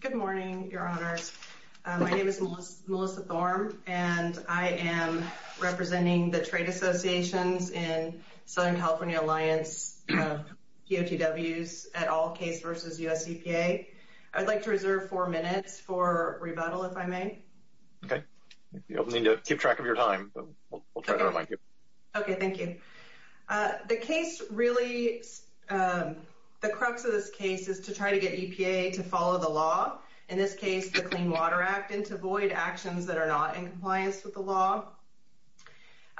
Good morning, your honors. My name is Melissa Thorm and I am representing the Trade Associations in Southern California Alliance of DOTWs at all case versus USEPA. I'd like to reserve four minutes for rebuttal, if I may. Okay, you need to keep track of your time. Okay, thank you. The case really, the law. In this case, the Clean Water Act and to avoid actions that are not in compliance with the law.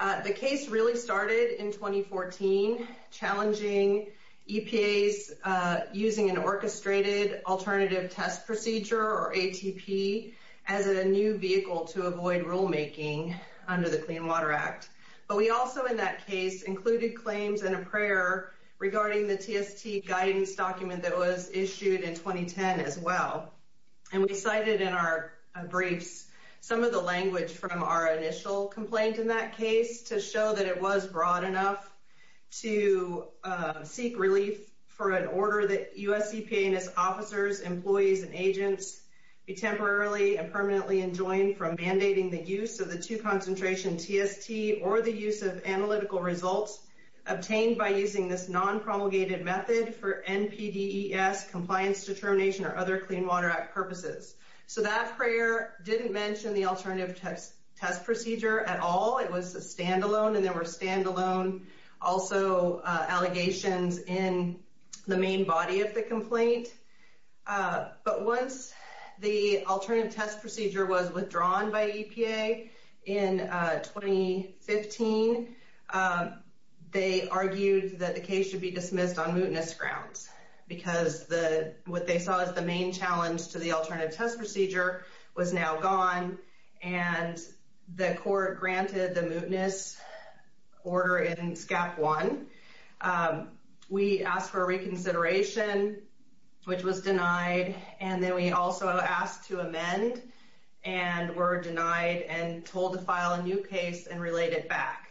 The case really started in 2014, challenging EPAs using an orchestrated alternative test procedure or ATP as a new vehicle to avoid rulemaking under the Clean Water Act. But we also in that case included claims and a prayer regarding the TST guidance document that was issued in 2010 as well. And we cited in our briefs some of the language from our initial complaint in that case to show that it was broad enough to seek relief for an order that USEPA and its officers, employees and agents be temporarily and permanently enjoined from mandating the use of the two concentration TST or the use of analytical results obtained by using this non promulgated method for NPDES compliance determination or other Clean Water Act purposes. So that prayer didn't mention the alternative test procedure at all. It was a standalone and there were standalone also allegations in the main body of the complaint. But once the alternative test procedure was withdrawn by EPA in 2015, they argued that the case should be dismissed on mootness grounds because what they saw as the main challenge to the alternative test procedure was now gone and the court granted the mootness order in SCAP one. We asked for reconsideration, which was denied. And then we also asked to amend and were case and relate it back.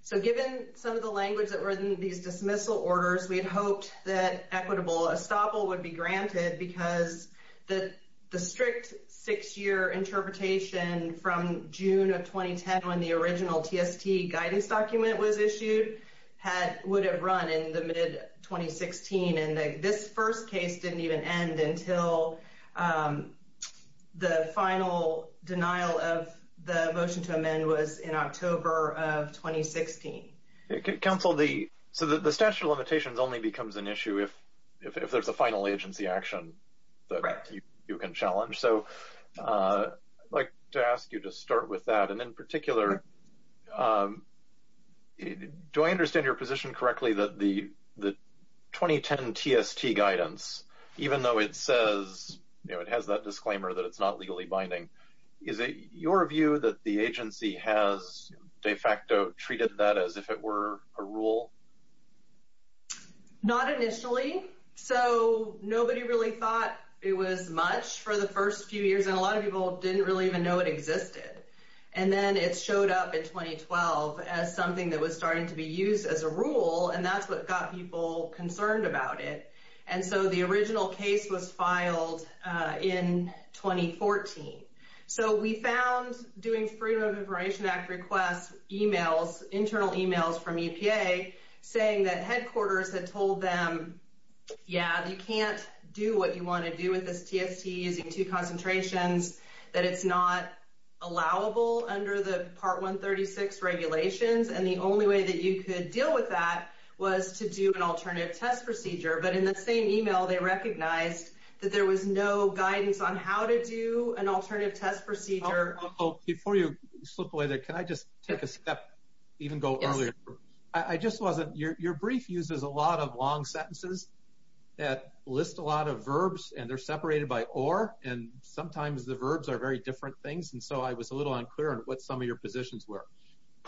So given some of the language that were in these dismissal orders, we had hoped that equitable estoppel would be granted because the strict six year interpretation from June of 2010, when the original TST guidance document was issued, had would have run in the mid 2016. And this first case didn't even end until, um, the final denial of the motion to amend was in October of 2016. Council the so that the statute of limitations only becomes an issue if if there's a final agency action that you can challenge. So, uh, like to ask you to start with that. And in particular, um, do I understand your position correctly that the 2010 TST guidance, even though it says it has that disclaimer that it's not legally binding, is it your view that the agency has de facto treated that as if it were a rule? Not initially. So nobody really thought it was much for the first few years, and a lot of people didn't really even know it existed. And then it showed up in 2012 as something that was starting to be used as a rule. And that's what got people concerned about it. And so the original case was filed in 2014. So we found doing Freedom of Information Act request emails, internal emails from EPA, saying that headquarters had told them, Yeah, you can't do what you want to do with this TST using two concentrations, that it's not allowable under the part 136 regulations. And the only way that you could deal with that was to do an alternative test procedure. But in the same email, they recognized that there was no guidance on how to do an alternative test procedure. Before you slip away there, can I just take a step, even go earlier? I just wasn't your brief uses a lot of long sentences that list a lot of verbs, and they're separated by or and sometimes the verbs are very different things. And so I was a little unclear on what some of your positions were.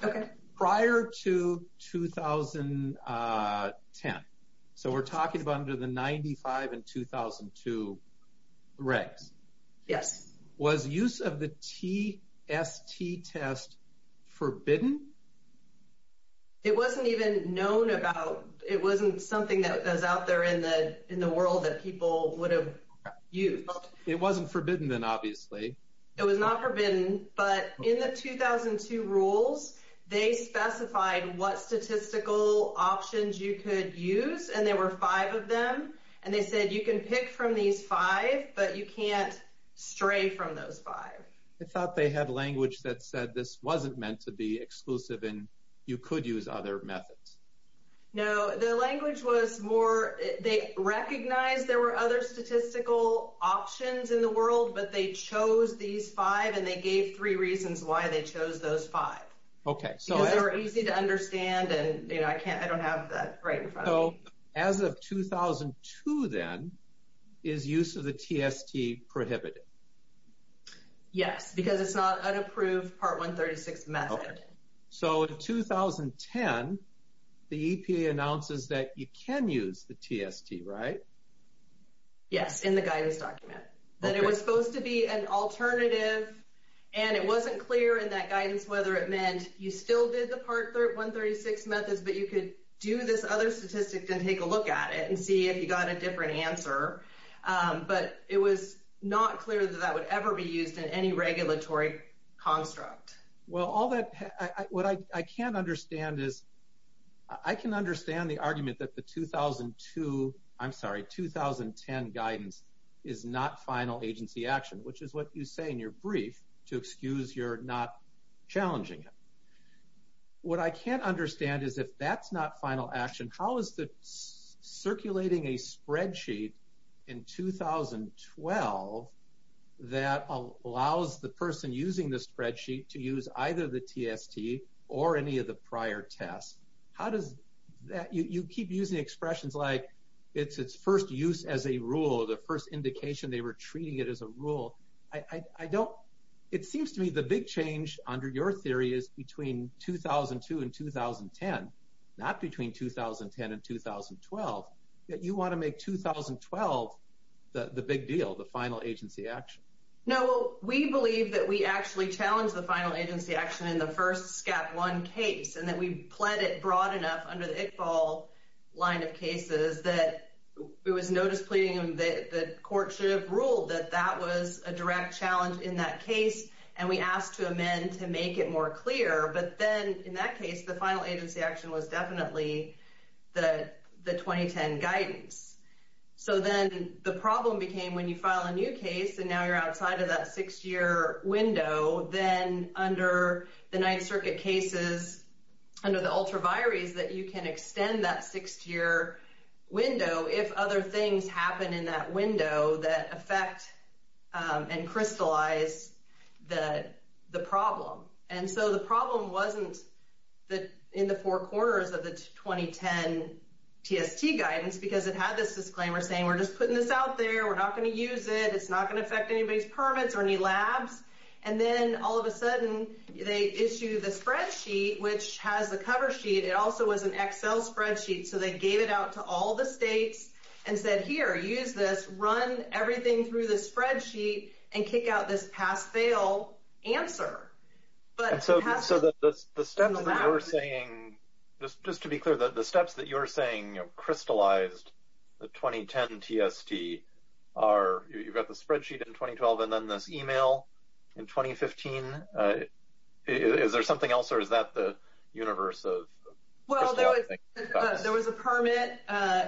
Okay, prior to 2010. So we're talking about under the 95 and 2002. Right? Yes. Was use of the TST test forbidden? It wasn't even known about it wasn't something that was out there in the in the world that people would have used. It wasn't forbidden, then obviously, it was not forbidden. But in the 2002 rules, they specified what statistical options you could use. And there were five of them. And they said you can pick from these five, but you can't stray from those five. I thought they had language that said this wasn't meant to be exclusive. And you could use other methods. No, the language was more they recognize there were other statistical options in the world, but they chose these five. And they gave three reasons why they chose those five. Okay, so they're easy to understand. And you know, I can't I don't have that right. So as of 2002, then, is use of the TST prohibited? Yes, because it's not an approved part 136 method. So in 2010, the EPA announces that you can use the TST, right? Yes, in the guidance document, that it was supposed to be an alternative. And it wasn't clear in that guidance, whether it meant you still did the part 136 methods, but you could do this other statistic and take a look at it and see if you got a different answer. But it was not clear that that would ever be used in any regulatory construct. Well, all that I what I can't understand is, I can understand the argument that the 2002 I'm sorry, 2010 guidance is not final agency action, which is what you say in your brief to excuse you're not challenging it. What I can't understand is if that's not final action, how is the circulating a spreadsheet in 2012? That allows the person using the spreadsheet to use either the TST or any of the prior tests? How does that you keep using expressions like, it's its first use as a rule, the first indication they were treating it as a rule. I don't, it seems to me the big change under your theory is between 2002 and 2010. Not between 2010 and 2012, that you want to make 2012 the big deal, the final agency action. No, we believe that we actually challenge the final agency action in the first scat one case, and that we pled it broad enough under the Iqbal line of cases that it was notice pleading, the court should have ruled that that was a direct challenge in that case. And we asked to amend to make it more clear. But then in that case, the final agency action was definitely the the 2010 guidance. So then the problem became when you file a new case, and now you're in circuit cases, under the ultra vires, that you can extend that six year window if other things happen in that window that affect and crystallize that the problem. And so the problem wasn't that in the four corners of the 2010 TST guidance, because it had this disclaimer saying, we're just putting this out there, we're not going to use it, it's not going to affect anybody's permits or any labs. And then all of a sudden, they issue the spreadsheet, which has the cover sheet, it also was an Excel spreadsheet. So they gave it out to all the states, and said, here, use this run everything through the spreadsheet, and kick out this pass fail answer. But so that's the steps that we're saying, this just to be clear that the steps that you're saying crystallized the 2010 TST are, you've got the spreadsheet in 2012, and then this email in 2015. Is there something else, or is that the universe? Well, there was a permit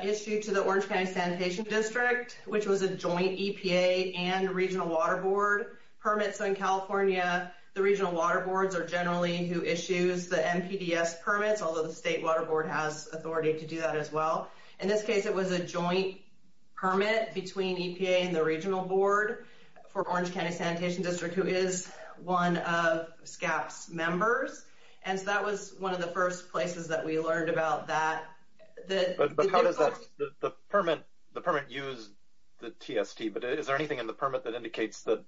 issued to the Orange County Sanitation District, which was a joint EPA and regional water board permit. So in California, the regional water boards are generally who issues the NPDES permits, although the state water board has authority to do that as well. In this case, it was a joint permit between EPA and the regional board for Orange County Sanitation District, who is one of SCAP's members. And so that was one of the first places that we learned about that. But how does that, the permit, the permit used the TST, but is there anything in the permit that indicates that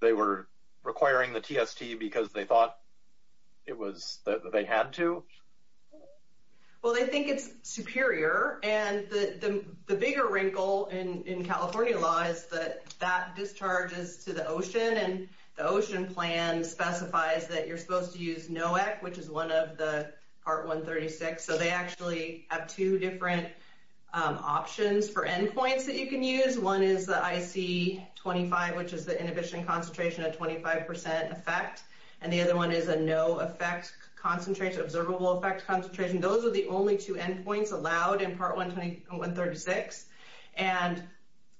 they were requiring the TST because they thought it was, that they had to? Well, they think it's superior, and the bigger wrinkle in California law is that that discharges to the ocean, and the ocean plan specifies that you're supposed to use NOAC, which is one of the part 136. So they actually have two different options for endpoints that you can use. One is the IC-25, which is the inhibition concentration at 25% effect, and the other one is a no effect concentration, observable effect concentration. Those are the only two endpoints allowed in part 136, and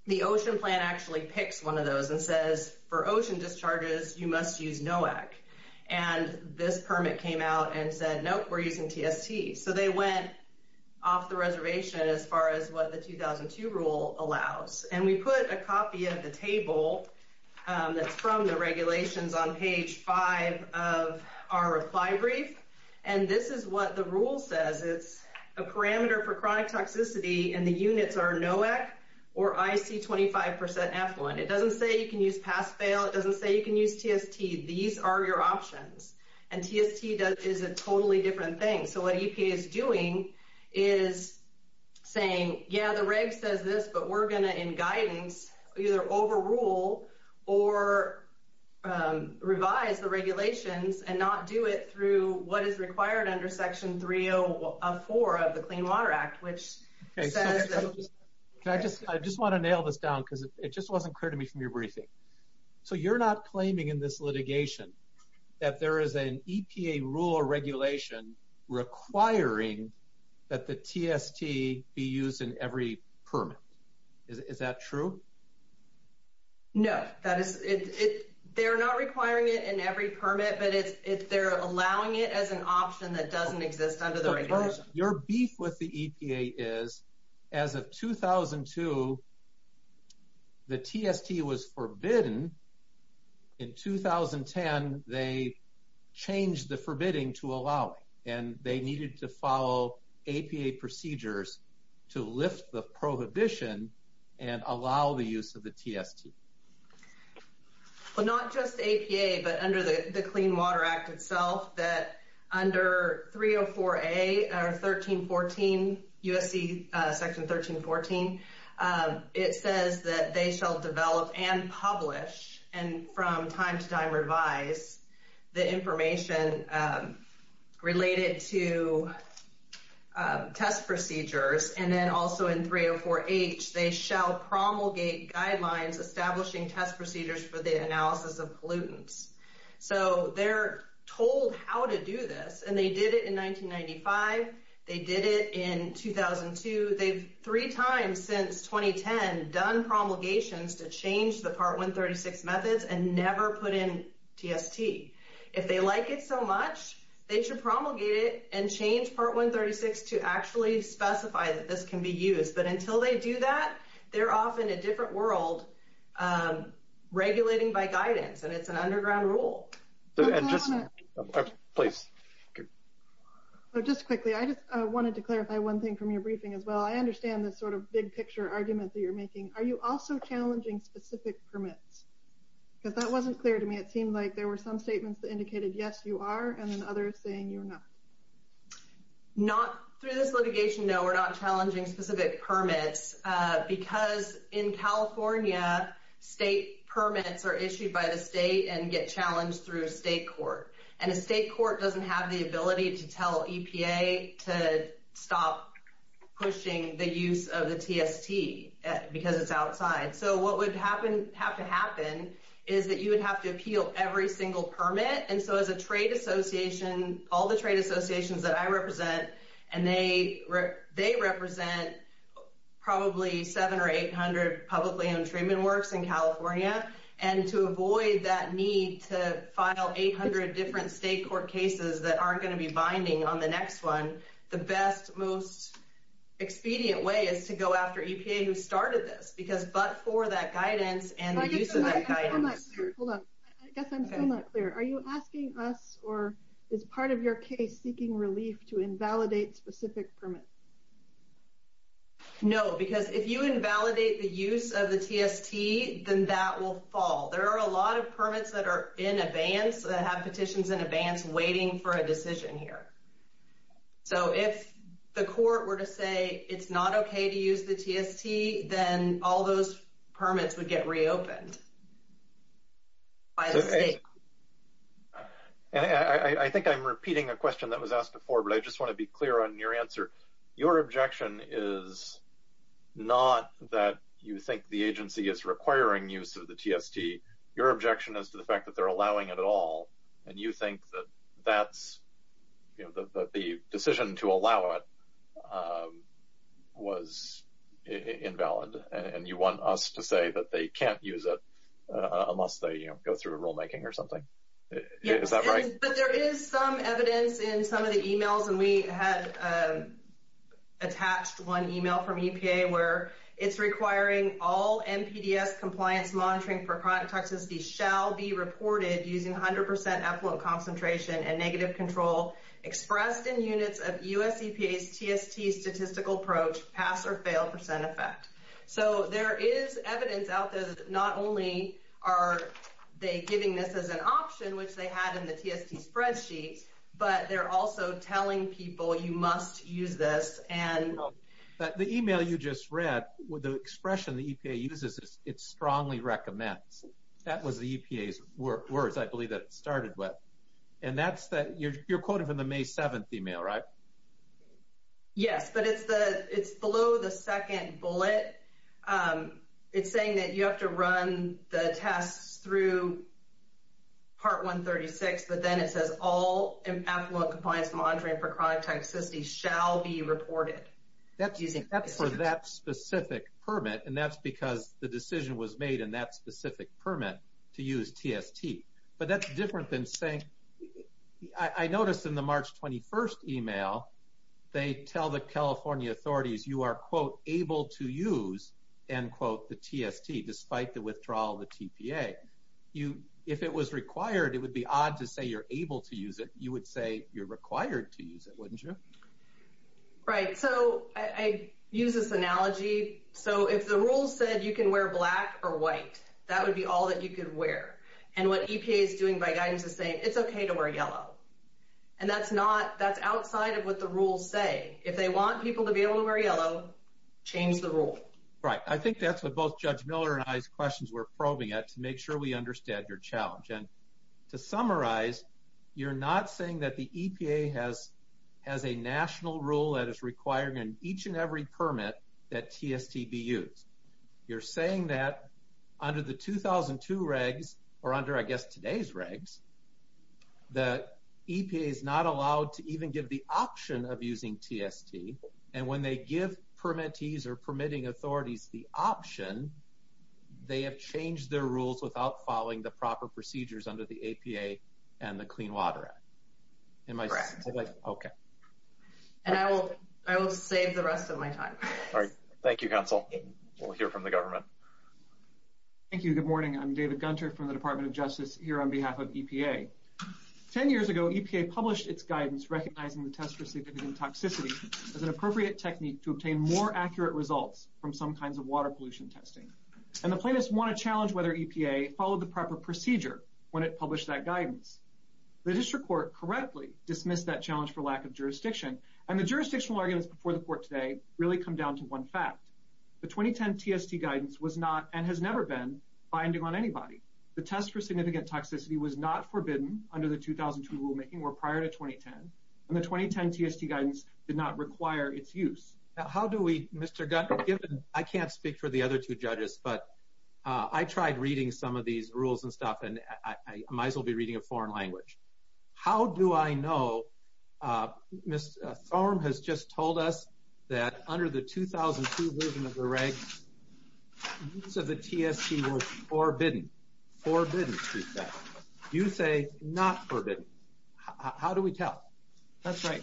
the ocean plan actually picks one of those and says for ocean discharges, you must use NOAC. And this permit came out and said, nope, we're using TST. So they went off the reservation as far as what the 2002 rule allows. And we put a copy of the table that's from the regulations on page five of our reply brief, and this is what the rule says. It's a parameter for chronic toxicity, and the units are NOAC or IC-25% effluent. It doesn't say you can use pass-fail. It doesn't say you can use TST. These are your options, and TST is a totally different thing. So what EPA is doing is saying, yeah, the guidance, either overrule or revise the regulations and not do it through what is required under section 304 of the Clean Water Act, which says that... I just want to nail this down because it just wasn't clear to me from your briefing. So you're not claiming in this litigation that there is an EPA rule or true? No. They're not requiring it in every permit, but they're allowing it as an option that doesn't exist under the regulations. Your beef with the EPA is, as of 2002, the TST was forbidden. In 2010, they changed the forbidding to allow it, and they needed to follow APA procedures to lift the prohibition and allow the use of the TST. Well, not just APA, but under the Clean Water Act itself, that under 304A or 1314, USC section 1314, it says that they shall develop and publish, and from time to time revise, the information related to test procedures. And then also in 304H, they shall promulgate guidelines establishing test procedures for the analysis of pollutants. So they're told how to do this, and they did it in 1995. They did it in 2002. They've three times since 2010 done promulgations to change the Part 136 methods and never put in TST. If they like it so much, they should promulgate it and change Part 136 to actually specify that this can be used. But until they do that, they're off in a different world, regulating by guidance, and it's an underground rule. Please. Just quickly, I just wanted to clarify one thing from your briefing as well. I understand this sort of big picture argument that you're making. Are you also challenging specific permits? Because that wasn't clear to me. It seemed like there were some statements that indicated, yes, you are, and then others saying you're not. Not through this litigation, no, we're not challenging specific permits. Because in California, state permits are issued by the state and get challenged through a state court. And a state court doesn't have the ability to tell EPA to stop pushing the use of the TST because it's outside. So what would have to happen is that you would have to appeal every single permit. And so as a trade association, all the trade associations that I represent, and they represent probably 700 or 800 publicly owned treatment works in California. And to avoid that need to file 800 different state court cases that aren't going to be binding on the next one, the best, most expedient way is to go after EPA who started this. Because but for that guidance and the use of that guidance. Hold on. I guess I'm still not clear. Are you asking us or is part of your case seeking relief to invalidate specific permits? No, because if you invalidate the use of the TST, then that will fall. There are a lot of permits that are in advance that have petitions in advance waiting for a decision here. So if the court were to say it's not OK to use the TST, then all those permits would get reopened. I think I think I'm repeating a question that was asked before, but I just want to be clear on your answer. Your objection is not that you think the agency is requiring use of the TST. Your objection is to the fact that they're allowing it at all. And you think that that's the decision to allow it was invalid. And you want us to say that they can't use it unless they go through rulemaking or something. Is that right? But there is some evidence in some of the emails and we had attached one email from Texas. These shall be reported using 100 percent effluent concentration and negative control expressed in units of US EPA's TST statistical approach pass or fail percent effect. So there is evidence out there that not only are they giving this as an option, which they had in the TST spreadsheet, but they're also telling people you must use this. And the email you just read with the expression the EPA uses, it's strongly recommends that was the EPA's words, I believe, that it started with. And that's that you're quoting from the May 7th email, right? Yes, but it's the it's below the second bullet, it's saying that you have to run the tests through. Part 136, but then it says all compliance monitoring for chronic toxicity shall be reported. That's using that for that specific permit, and that's because the decision was made in that specific permit to use TST. But that's different than saying I noticed in the March 21st email they tell the California authorities you are, quote, able to use and quote the TST despite the withdrawal of the TPA. You if it was required, it would be odd to say you're able to use it. You would say you're required to use it, wouldn't you? Right, so I use this analogy, so if the rules said you can wear black or white, that would be all that you could wear. And what EPA is doing by guidance is saying it's OK to wear yellow. And that's not that's outside of what the rules say. If they want people to be able to wear yellow, change the rule. Right. I think that's what both Judge Miller and I's questions we're probing at to make sure we understand your challenge. To summarize, you're not saying that the EPA has has a national rule that is requiring in each and every permit that TST be used. You're saying that under the 2002 regs or under, I guess, today's regs, the EPA is not allowed to even give the option of using TST. And when they give permittees or permitting authorities the option, they have changed their rules without following the proper procedures under the APA and the Clean Water Act. Am I correct? OK. And I will I will save the rest of my time. All right. Thank you, counsel. We'll hear from the government. Thank you. Good morning. I'm David Gunter from the Department of Justice here on behalf of EPA. Ten years ago, EPA published its guidance recognizing the test receiving toxicity as an appropriate technique to obtain more accurate results from some kinds of water pollution testing. And the plaintiffs want to challenge whether EPA followed the proper procedure when it published that guidance. The district court correctly dismissed that challenge for lack of jurisdiction. And the jurisdictional arguments before the court today really come down to one fact. The 2010 TST guidance was not and has never been binding on anybody. The test for significant toxicity was not forbidden under the 2002 rulemaking or prior to 2010. And the 2010 TST guidance did not require its use. How do we, Mr. Gunter, I can't speak for the other two judges, but I tried reading some of these rules and stuff and I might as well be reading a foreign language. How do I know? Ms. Thorne has just told us that under the 2002 movement of the regs, use of the TST was forbidden. Forbidden. You say not forbidden. How do we tell? That's right.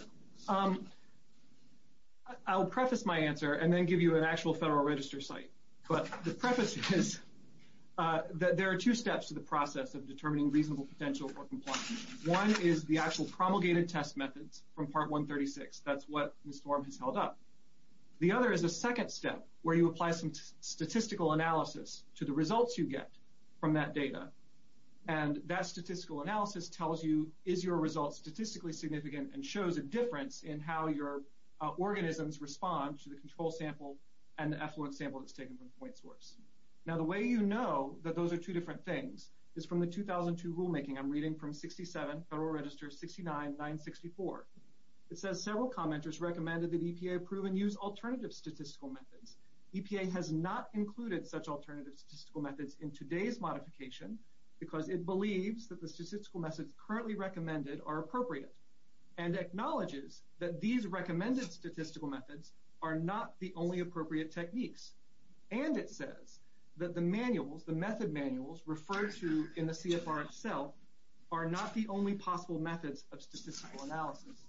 I'll preface my answer and then give you an actual Federal Register site. But the preface is that there are two steps to the process of determining reasonable potential for compliance. One is the actual promulgated test methods from Part 136. That's what Ms. Thorne has held up. The other is a second step where you apply some statistical analysis to the results you get from that data. And that statistical analysis tells you, is your result statistically significant and shows a difference in how your organisms respond to the control sample and the effluent sample that's taken from the point source. Now, the way you know that those are two different things is from the 2002 rulemaking. I'm reading from 67 Federal Register, 69, 964. It says several commenters recommended that EPA approve and use alternative statistical methods. EPA has not included such alternative statistical methods in today's modification because it believes that the statistical methods currently recommended are appropriate and acknowledges that these recommended statistical methods are not the only appropriate techniques. And it says that the manuals, the method manuals referred to in the CFR itself are not the only possible methods of statistical analysis.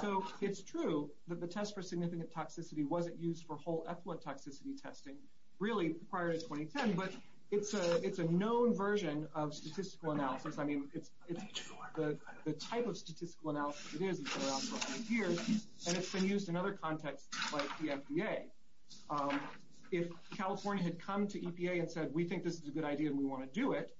So it's true that the test for significant toxicity wasn't used for whole effluent toxicity testing really prior to 2010, but it's a known version of statistical analysis. I mean, it's the type of statistical analysis it is, it's been around for a hundred years, and it's been used in other contexts like the FDA. If California had come to EPA and said, we think this is a good idea and we want to do it,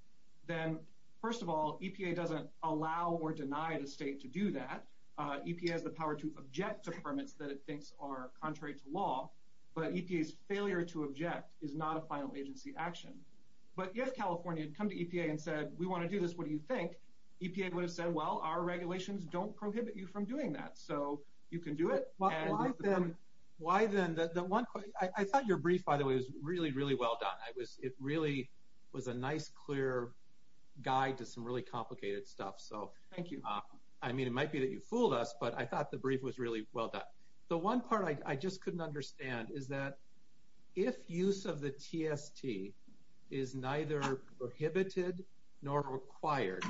then first of all, EPA doesn't allow or deny the state to do that. EPA has the power to object to permits that it thinks are contrary to law. But EPA's failure to object is not a final agency action. But if California had come to EPA and said, we want to do this, what do you think? EPA would have said, well, our regulations don't prohibit you from doing that. So you can do it. Why then? I thought your brief, by the way, was really, really well done. It really was a nice, clear guide to some really complicated stuff. So thank you. I mean, it might be that you fooled us, but I thought the brief was really well done. The one part I just couldn't understand is that if use of the TST is neither prohibited nor required,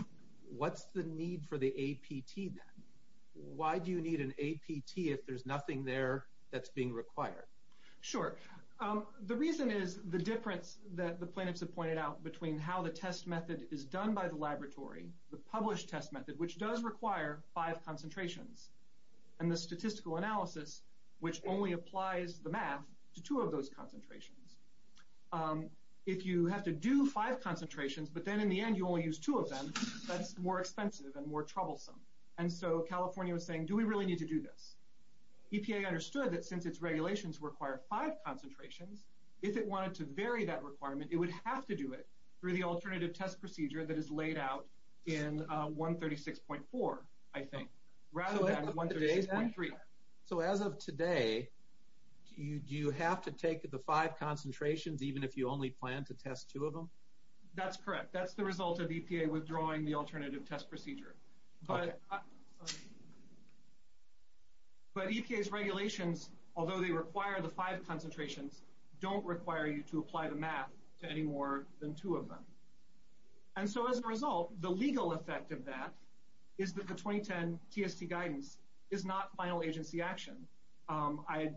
what's the need for the APT? Why do you need an APT if there's nothing there that's being required? Sure. The reason is the difference that the plaintiffs have pointed out between how the test method is done by the laboratory, the published test method, which does require five concentrations, and the statistical analysis, which only applies the math to two of those concentrations. If you have to do five concentrations, but then in the end, you only use two of them, that's more expensive and more troublesome. And so California was saying, do we really need to do this? EPA understood that since its regulations require five concentrations, if it wanted to vary that requirement, it would have to do it through the alternative test procedure that is laid out in 136.4, I think, rather than 136.3. So as of today, do you have to take the five concentrations, even if you only plan to test two of them? That's correct. That's the result of EPA withdrawing the alternative test procedure. But EPA's regulations, although they require the five concentrations, don't require you to apply the math to any more than two of them. And so as a result, the legal effect of that is that the 2010 TST guidance is not final agency action. I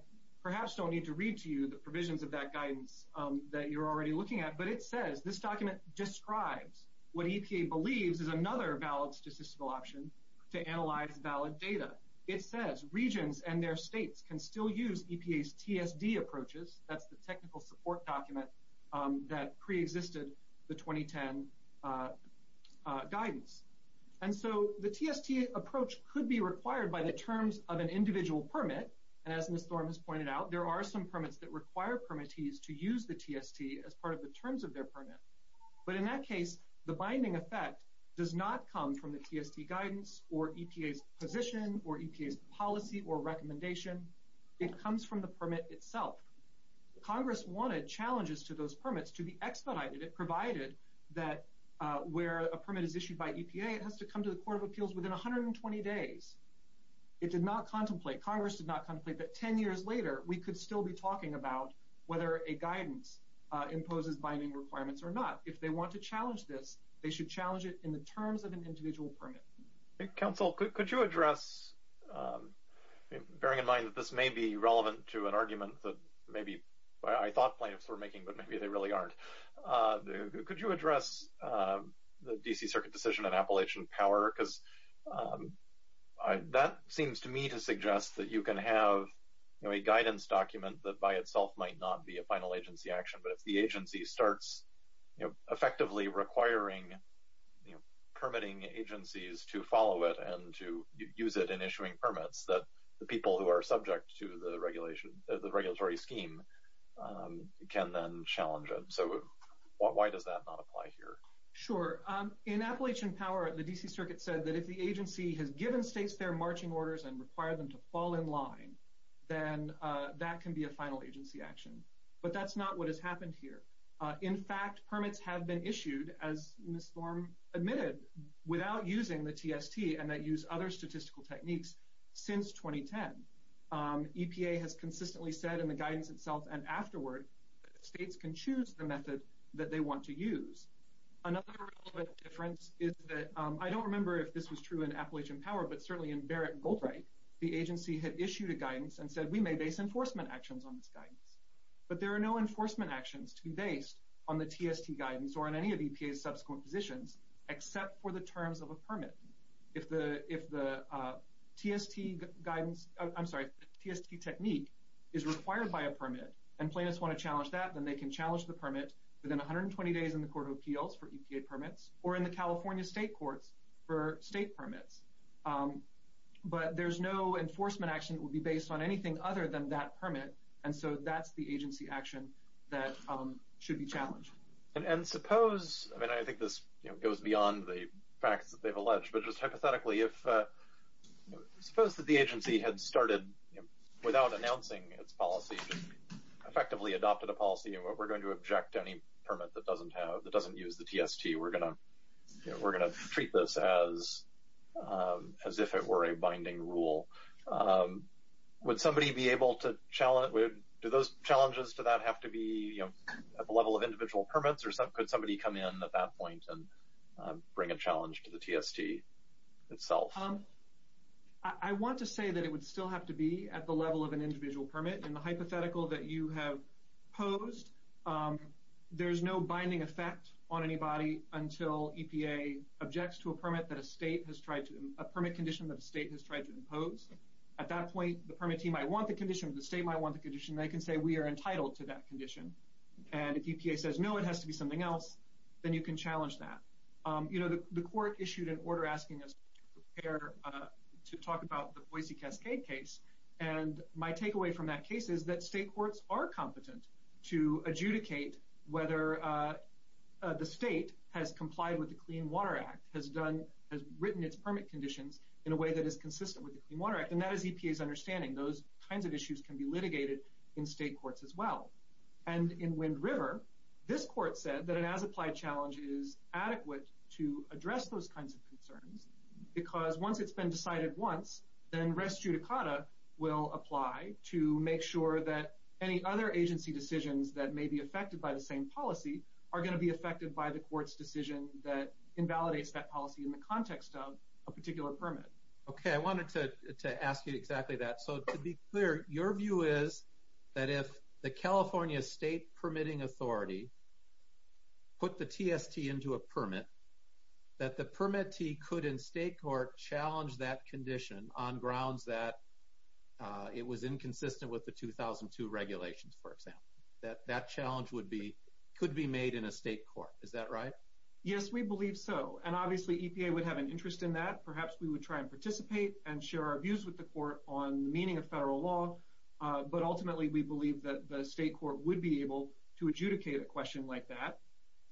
perhaps don't need to read to you the provisions of that guidance that you're already looking at, but it says this document describes what EPA believes is another valid statistical option to analyze valid data. It says regions and their states can still use EPA's TSD approaches. That's the technical support document that pre-existed the 2010 guidance. And so the TST approach could be required by the terms of an individual permit. And as Ms. Thorn has pointed out, there are some permits that require permittees to use the TST as part of the terms of their permit. But in that case, the binding effect does not come from the TST guidance or EPA's position or EPA's policy or recommendation. It comes from the permit itself. Congress wanted challenges to those permits to be expedited. It provided that where a permit is issued by EPA, it has to come to the Court of Appeals within 120 days. It did not contemplate, Congress did not contemplate that 10 years later, we could still be talking about whether a guidance imposes binding requirements or not. If they want to challenge this, they should challenge it in the terms of an individual permit. Counsel, could you address, bearing in mind that this may be relevant to an I thought plaintiffs were making, but maybe they really aren't. Could you address the D.C. Circuit decision in Appalachian Power? Because that seems to me to suggest that you can have a guidance document that by itself might not be a final agency action. But if the agency starts effectively requiring permitting agencies to follow it and to use it in issuing permits, that the people who are subject to the regulatory scheme can then challenge it. So why does that not apply here? Sure. In Appalachian Power, the D.C. Circuit said that if the agency has given states their marching orders and require them to fall in line, then that can be a final agency action. But that's not what has happened here. In fact, permits have been issued, as Ms. Thorm admitted, without using the TST and that use other statistical techniques since 2010. EPA has consistently said in the guidance itself and afterward states can choose the method that they want to use. Another difference is that I don't remember if this was true in Appalachian Power, but certainly in Barrett and Goldbright, the agency had issued a guidance and said, we may base enforcement actions on this guidance, but there are no enforcement actions to be based on the TST guidance or on any of EPA's subsequent positions, except for the terms of a permit. If the TST guidance, I'm sorry, TST technique is required by a permit and plaintiffs want to challenge that, then they can challenge the permit within 120 days in the court of appeals for EPA permits or in the California state courts for state permits. But there's no enforcement action that would be based on anything other than that permit. And so that's the agency action that should be challenged. And suppose, I mean, I think this goes beyond the facts that they've alleged, but just hypothetically, if suppose that the agency had started without announcing its policy, effectively adopted a policy and what we're going to object to any permit that doesn't have, that doesn't use the TST, we're going to, you know, we're going to treat this as, as if it were a binding rule. Would somebody be able to challenge, do those challenges to that have to be, you know, at the level of individual permits or could somebody come in at that point and bring a challenge to the TST? Itself. I want to say that it would still have to be at the level of an individual permit and the hypothetical that you have posed, there's no binding effect on anybody until EPA objects to a permit that a state has tried to, a permit condition that the state has tried to impose. At that point, the permittee might want the condition, the state might want the condition, they can say, we are entitled to that condition. And if EPA says, no, it has to be something else, then you can challenge that. You know, the court issued an order asking us to talk about the Boise Cascade case. And my takeaway from that case is that state courts are competent to adjudicate whether the state has complied with the Clean Water Act, has done, has written its permit conditions in a way that is consistent with the Clean Water Act. And that is EPA's understanding. Those kinds of issues can be litigated in state courts as well. And in Wind River, this court said that an as-applied challenge is adequate to address those kinds of concerns because once it's been decided once, then res judicata will apply to make sure that any other agency decisions that may be affected by the same policy are going to be affected by the court's decision that invalidates that policy in the context of a particular permit. OK, I wanted to ask you exactly that. So to be clear, your view is that if the California State Permitting Authority put the TST into a permit, that the permittee could in state court challenge that condition on grounds that it was inconsistent with the 2002 regulations, for example, that that challenge would be could be made in a state court. Is that right? Yes, we believe so. And obviously, EPA would have an interest in that. Perhaps we would try and participate and share our views with the court on the meaning of federal law. But ultimately, we believe that the state court would be able to adjudicate a question like that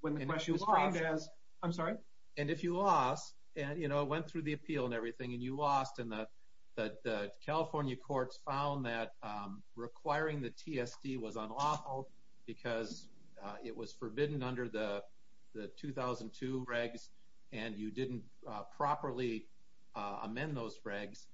when the question is framed as. I'm sorry. And if you lost and, you know, went through the appeal and everything and you lost and the California courts found that requiring the TST was unlawful because it was forbidden under the 2002 regs and you didn't properly amend those regs,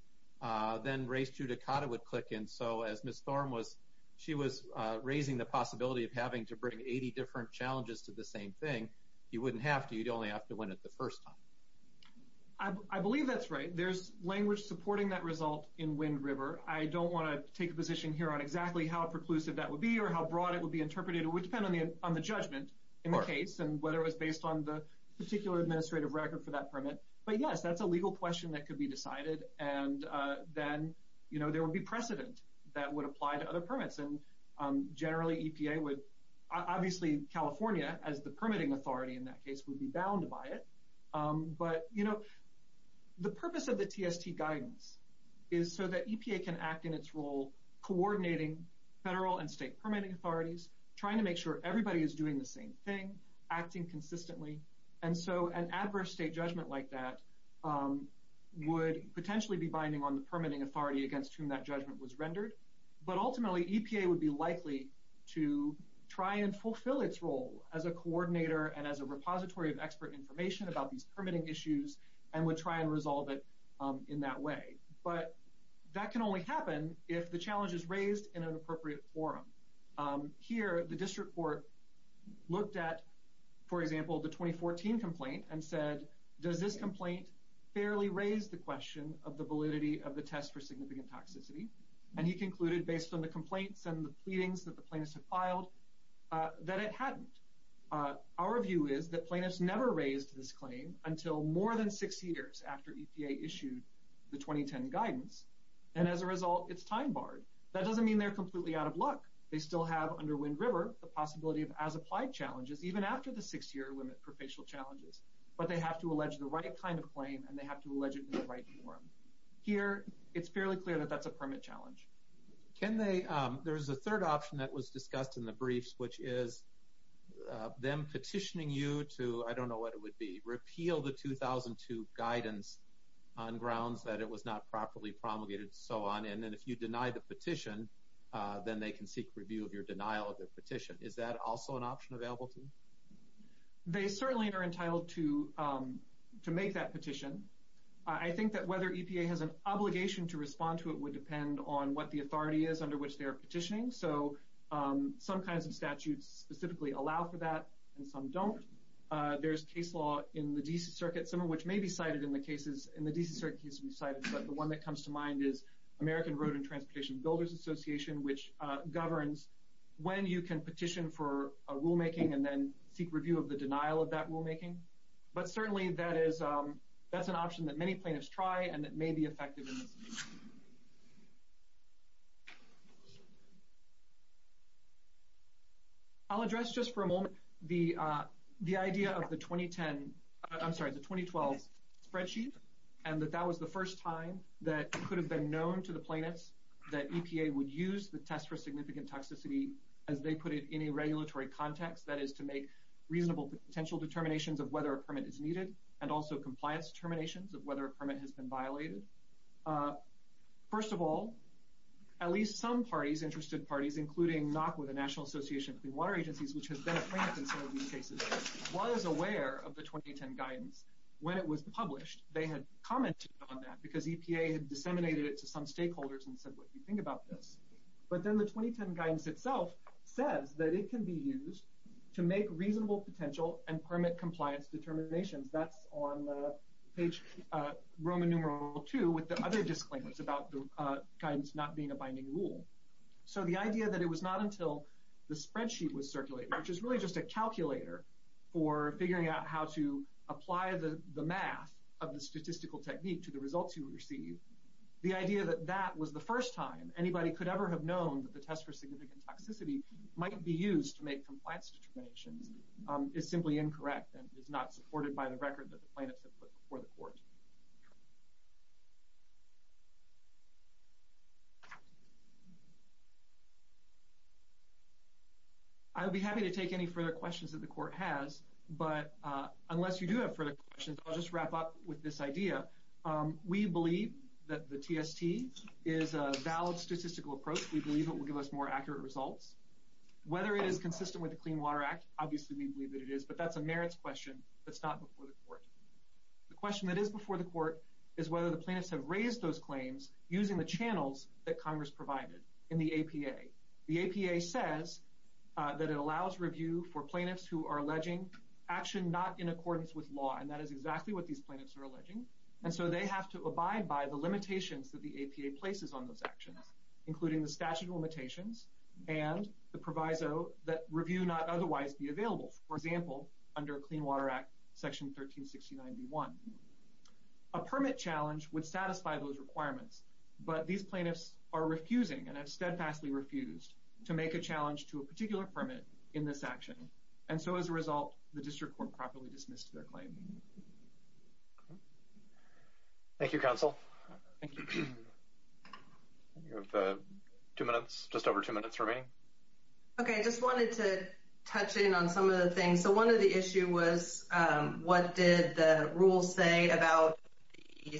then race judicata would click in. So as Miss Thorn was, she was raising the possibility of having to bring 80 different challenges to the same thing. You wouldn't have to. You'd only have to win it the first time. I believe that's right. There's language supporting that result in Wind River. I don't want to take a position here on exactly how preclusive that would be or how broad it would be interpreted. It would depend on the, on the judgment in the case and whether it was based on the particular administrative record for that permit. But yes, that's a legal question that could be decided. And then, you know, there will be precedent that would apply to other permits. And generally EPA would, obviously California as the permitting authority in that case would be bound by it. But, you know, the purpose of the TST guidance is so that EPA can act in its role, coordinating federal and state permitting authorities, trying to make sure everybody is doing the same thing, acting consistently. And so an adverse state judgment like that would potentially be binding on the permitting authority against whom that judgment was rendered. But ultimately EPA would be likely to try and fulfill its role as a coordinator and as a repository of expert information about these permitting issues and would try and resolve it in that way. But that can only happen if the challenge is raised in an appropriate forum. Here, the district court looked at, for example, the 2014 complaint and said, does this complaint fairly raise the question of the validity of the test for significant toxicity? And he concluded based on the complaints and the pleadings that the plaintiffs have filed, that it hadn't. Our view is that plaintiffs never raised this claim until more than six years after EPA issued the 2010 guidance. And as a result, it's time barred. That doesn't mean they're completely out of luck. They still have under Wind River, the possibility of as applied challenges, even after the six year limit for facial challenges, but they have to allege the right kind of claim and they have to allege it in the right form. Here, it's fairly clear that that's a permit challenge. Can they, there was a third option that was discussed in the briefs, which is them petitioning you to, I don't know what it would be, repeal the 2002 guidance on grounds that it was not properly promulgated and so on. And if you deny the petition, then they can seek review of your denial of the petition. Is that also an option available to you? They certainly are entitled to, to make that petition. I think that whether EPA has an obligation to respond to it would depend on what the authority is under which they are petitioning. So some kinds of statutes specifically allow for that and some don't. There's case law in the DC circuit, some of which may be cited in the cases in the DC circuit has been cited, but the one that comes to mind is American Road and Transportation Builders Association, which governs when you can petition for a rule making and then seek review of the denial of that rulemaking. But certainly that is, that's an option that many plaintiffs try and that may be effective. I'll address just for a moment the, the idea of the 2010, I'm sorry, the 2010 guidance, that that was the first time that it could have been known to the plaintiffs that EPA would use the test for significant toxicity as they put it in a regulatory context, that is to make reasonable potential determinations of whether a permit is needed and also compliance determinations of whether a permit has been violated. First of all, at least some parties, interested parties, including NACWCA, the National Association of Clean Water Agencies, which has been a plaintiff in some of these cases, was aware of the 2010 guidance when it was published. They had commented on that because EPA had disseminated it to some stakeholders and said, what do you think about this? But then the 2010 guidance itself says that it can be used to make reasonable potential and permit compliance determinations. That's on page Roman numeral two with the other disclaimers about the guidance not being a binding rule. So the idea that it was not until the spreadsheet was circulated, which is really just a calculator for figuring out how to apply the math of the statistical technique to the results you receive, the idea that that was the first time anybody could ever have known that the test for significant toxicity might be used to make compliance determinations is simply incorrect and is not supported by the record that the plaintiff put before the court. I would be happy to take any further questions that the court has, but unless you do have further questions, I'll just wrap up with this idea. We believe that the TST is a valid statistical approach. We believe it will give us more accurate results. Whether it is consistent with the Clean Water Act, obviously we believe that it is, but the question that is before the court is whether the plaintiffs have raised those claims using the channels that Congress provided in the APA. The APA says that it allows review for plaintiffs who are alleging action not in accordance with law, and that is exactly what these plaintiffs are alleging. And so they have to abide by the limitations that the APA places on those actions, including the statute of limitations and the proviso that review not otherwise be in effect. A permit challenge would satisfy those requirements, but these plaintiffs are refusing and have steadfastly refused to make a challenge to a particular permit in this action. And so as a result, the district court properly dismissed their claim. Thank you, counsel. You have two minutes, just over two minutes remaining. OK, I just wanted to touch in on some of the things. So one of the issue was what did the rules say about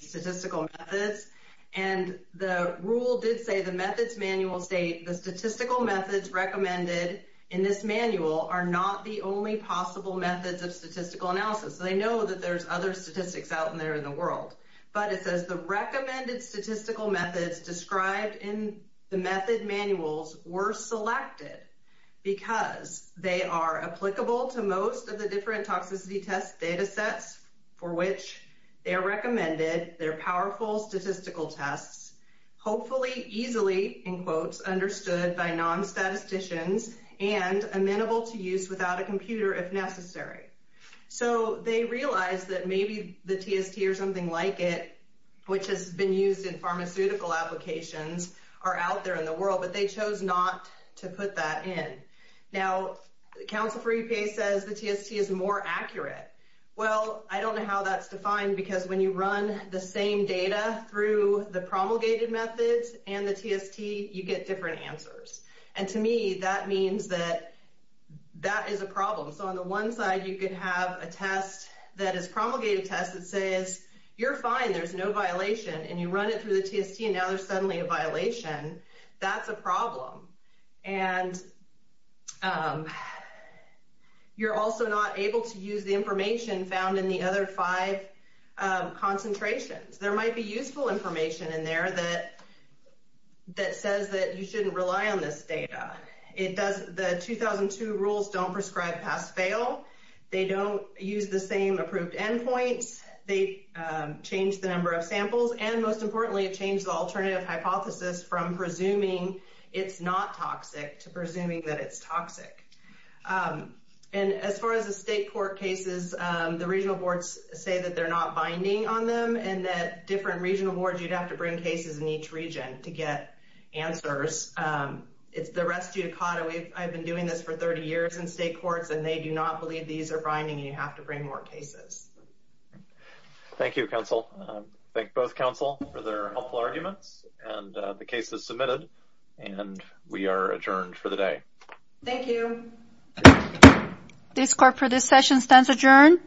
statistical methods? And the rule did say the methods manual state the statistical methods recommended in this manual are not the only possible methods of statistical analysis. They know that there's other statistics out there in the world, but it says the recommended statistical methods described in the method manuals were selected because they are applicable to most of the different toxicity test data sets for which they are recommended. They're powerful statistical tests, hopefully easily, in quotes, understood by non statisticians and amenable to use without a computer if necessary. So they realize that maybe the TST or something like it, which has been used in pharmaceutical applications, are out there in the world, but they chose not to put that in. Now, counsel for EPA says the TST is more accurate. Well, I don't know how that's defined, because when you run the same data through the promulgated methods and the TST, you get different answers. And to me, that means that that is a problem. So on the one side, you could have a test that is promulgated test that says you're fine, there's no violation and you run it through the TST and now there's suddenly a violation. That's a problem. And you're also not able to use the information found in the other five concentrations. There might be useful information in there that that says that you shouldn't rely on this data. It does. The 2002 rules don't prescribe pass fail. They don't use the same approved endpoints. They change the number of samples. And most importantly, it changed the alternative hypothesis from presuming it's not toxic to presuming that it's toxic. And as far as the state court cases, the regional boards say that they're not binding on them and that different regional boards, you'd have to bring cases in each region to get answers. It's the rest you caught. I've been doing this for 30 years in state courts and they do not believe these are binding. You have to bring more cases. Thank you, counsel. Thank both counsel for their helpful arguments and the case is submitted and we are adjourned for the day. Thank you. This court for this session stands adjourned.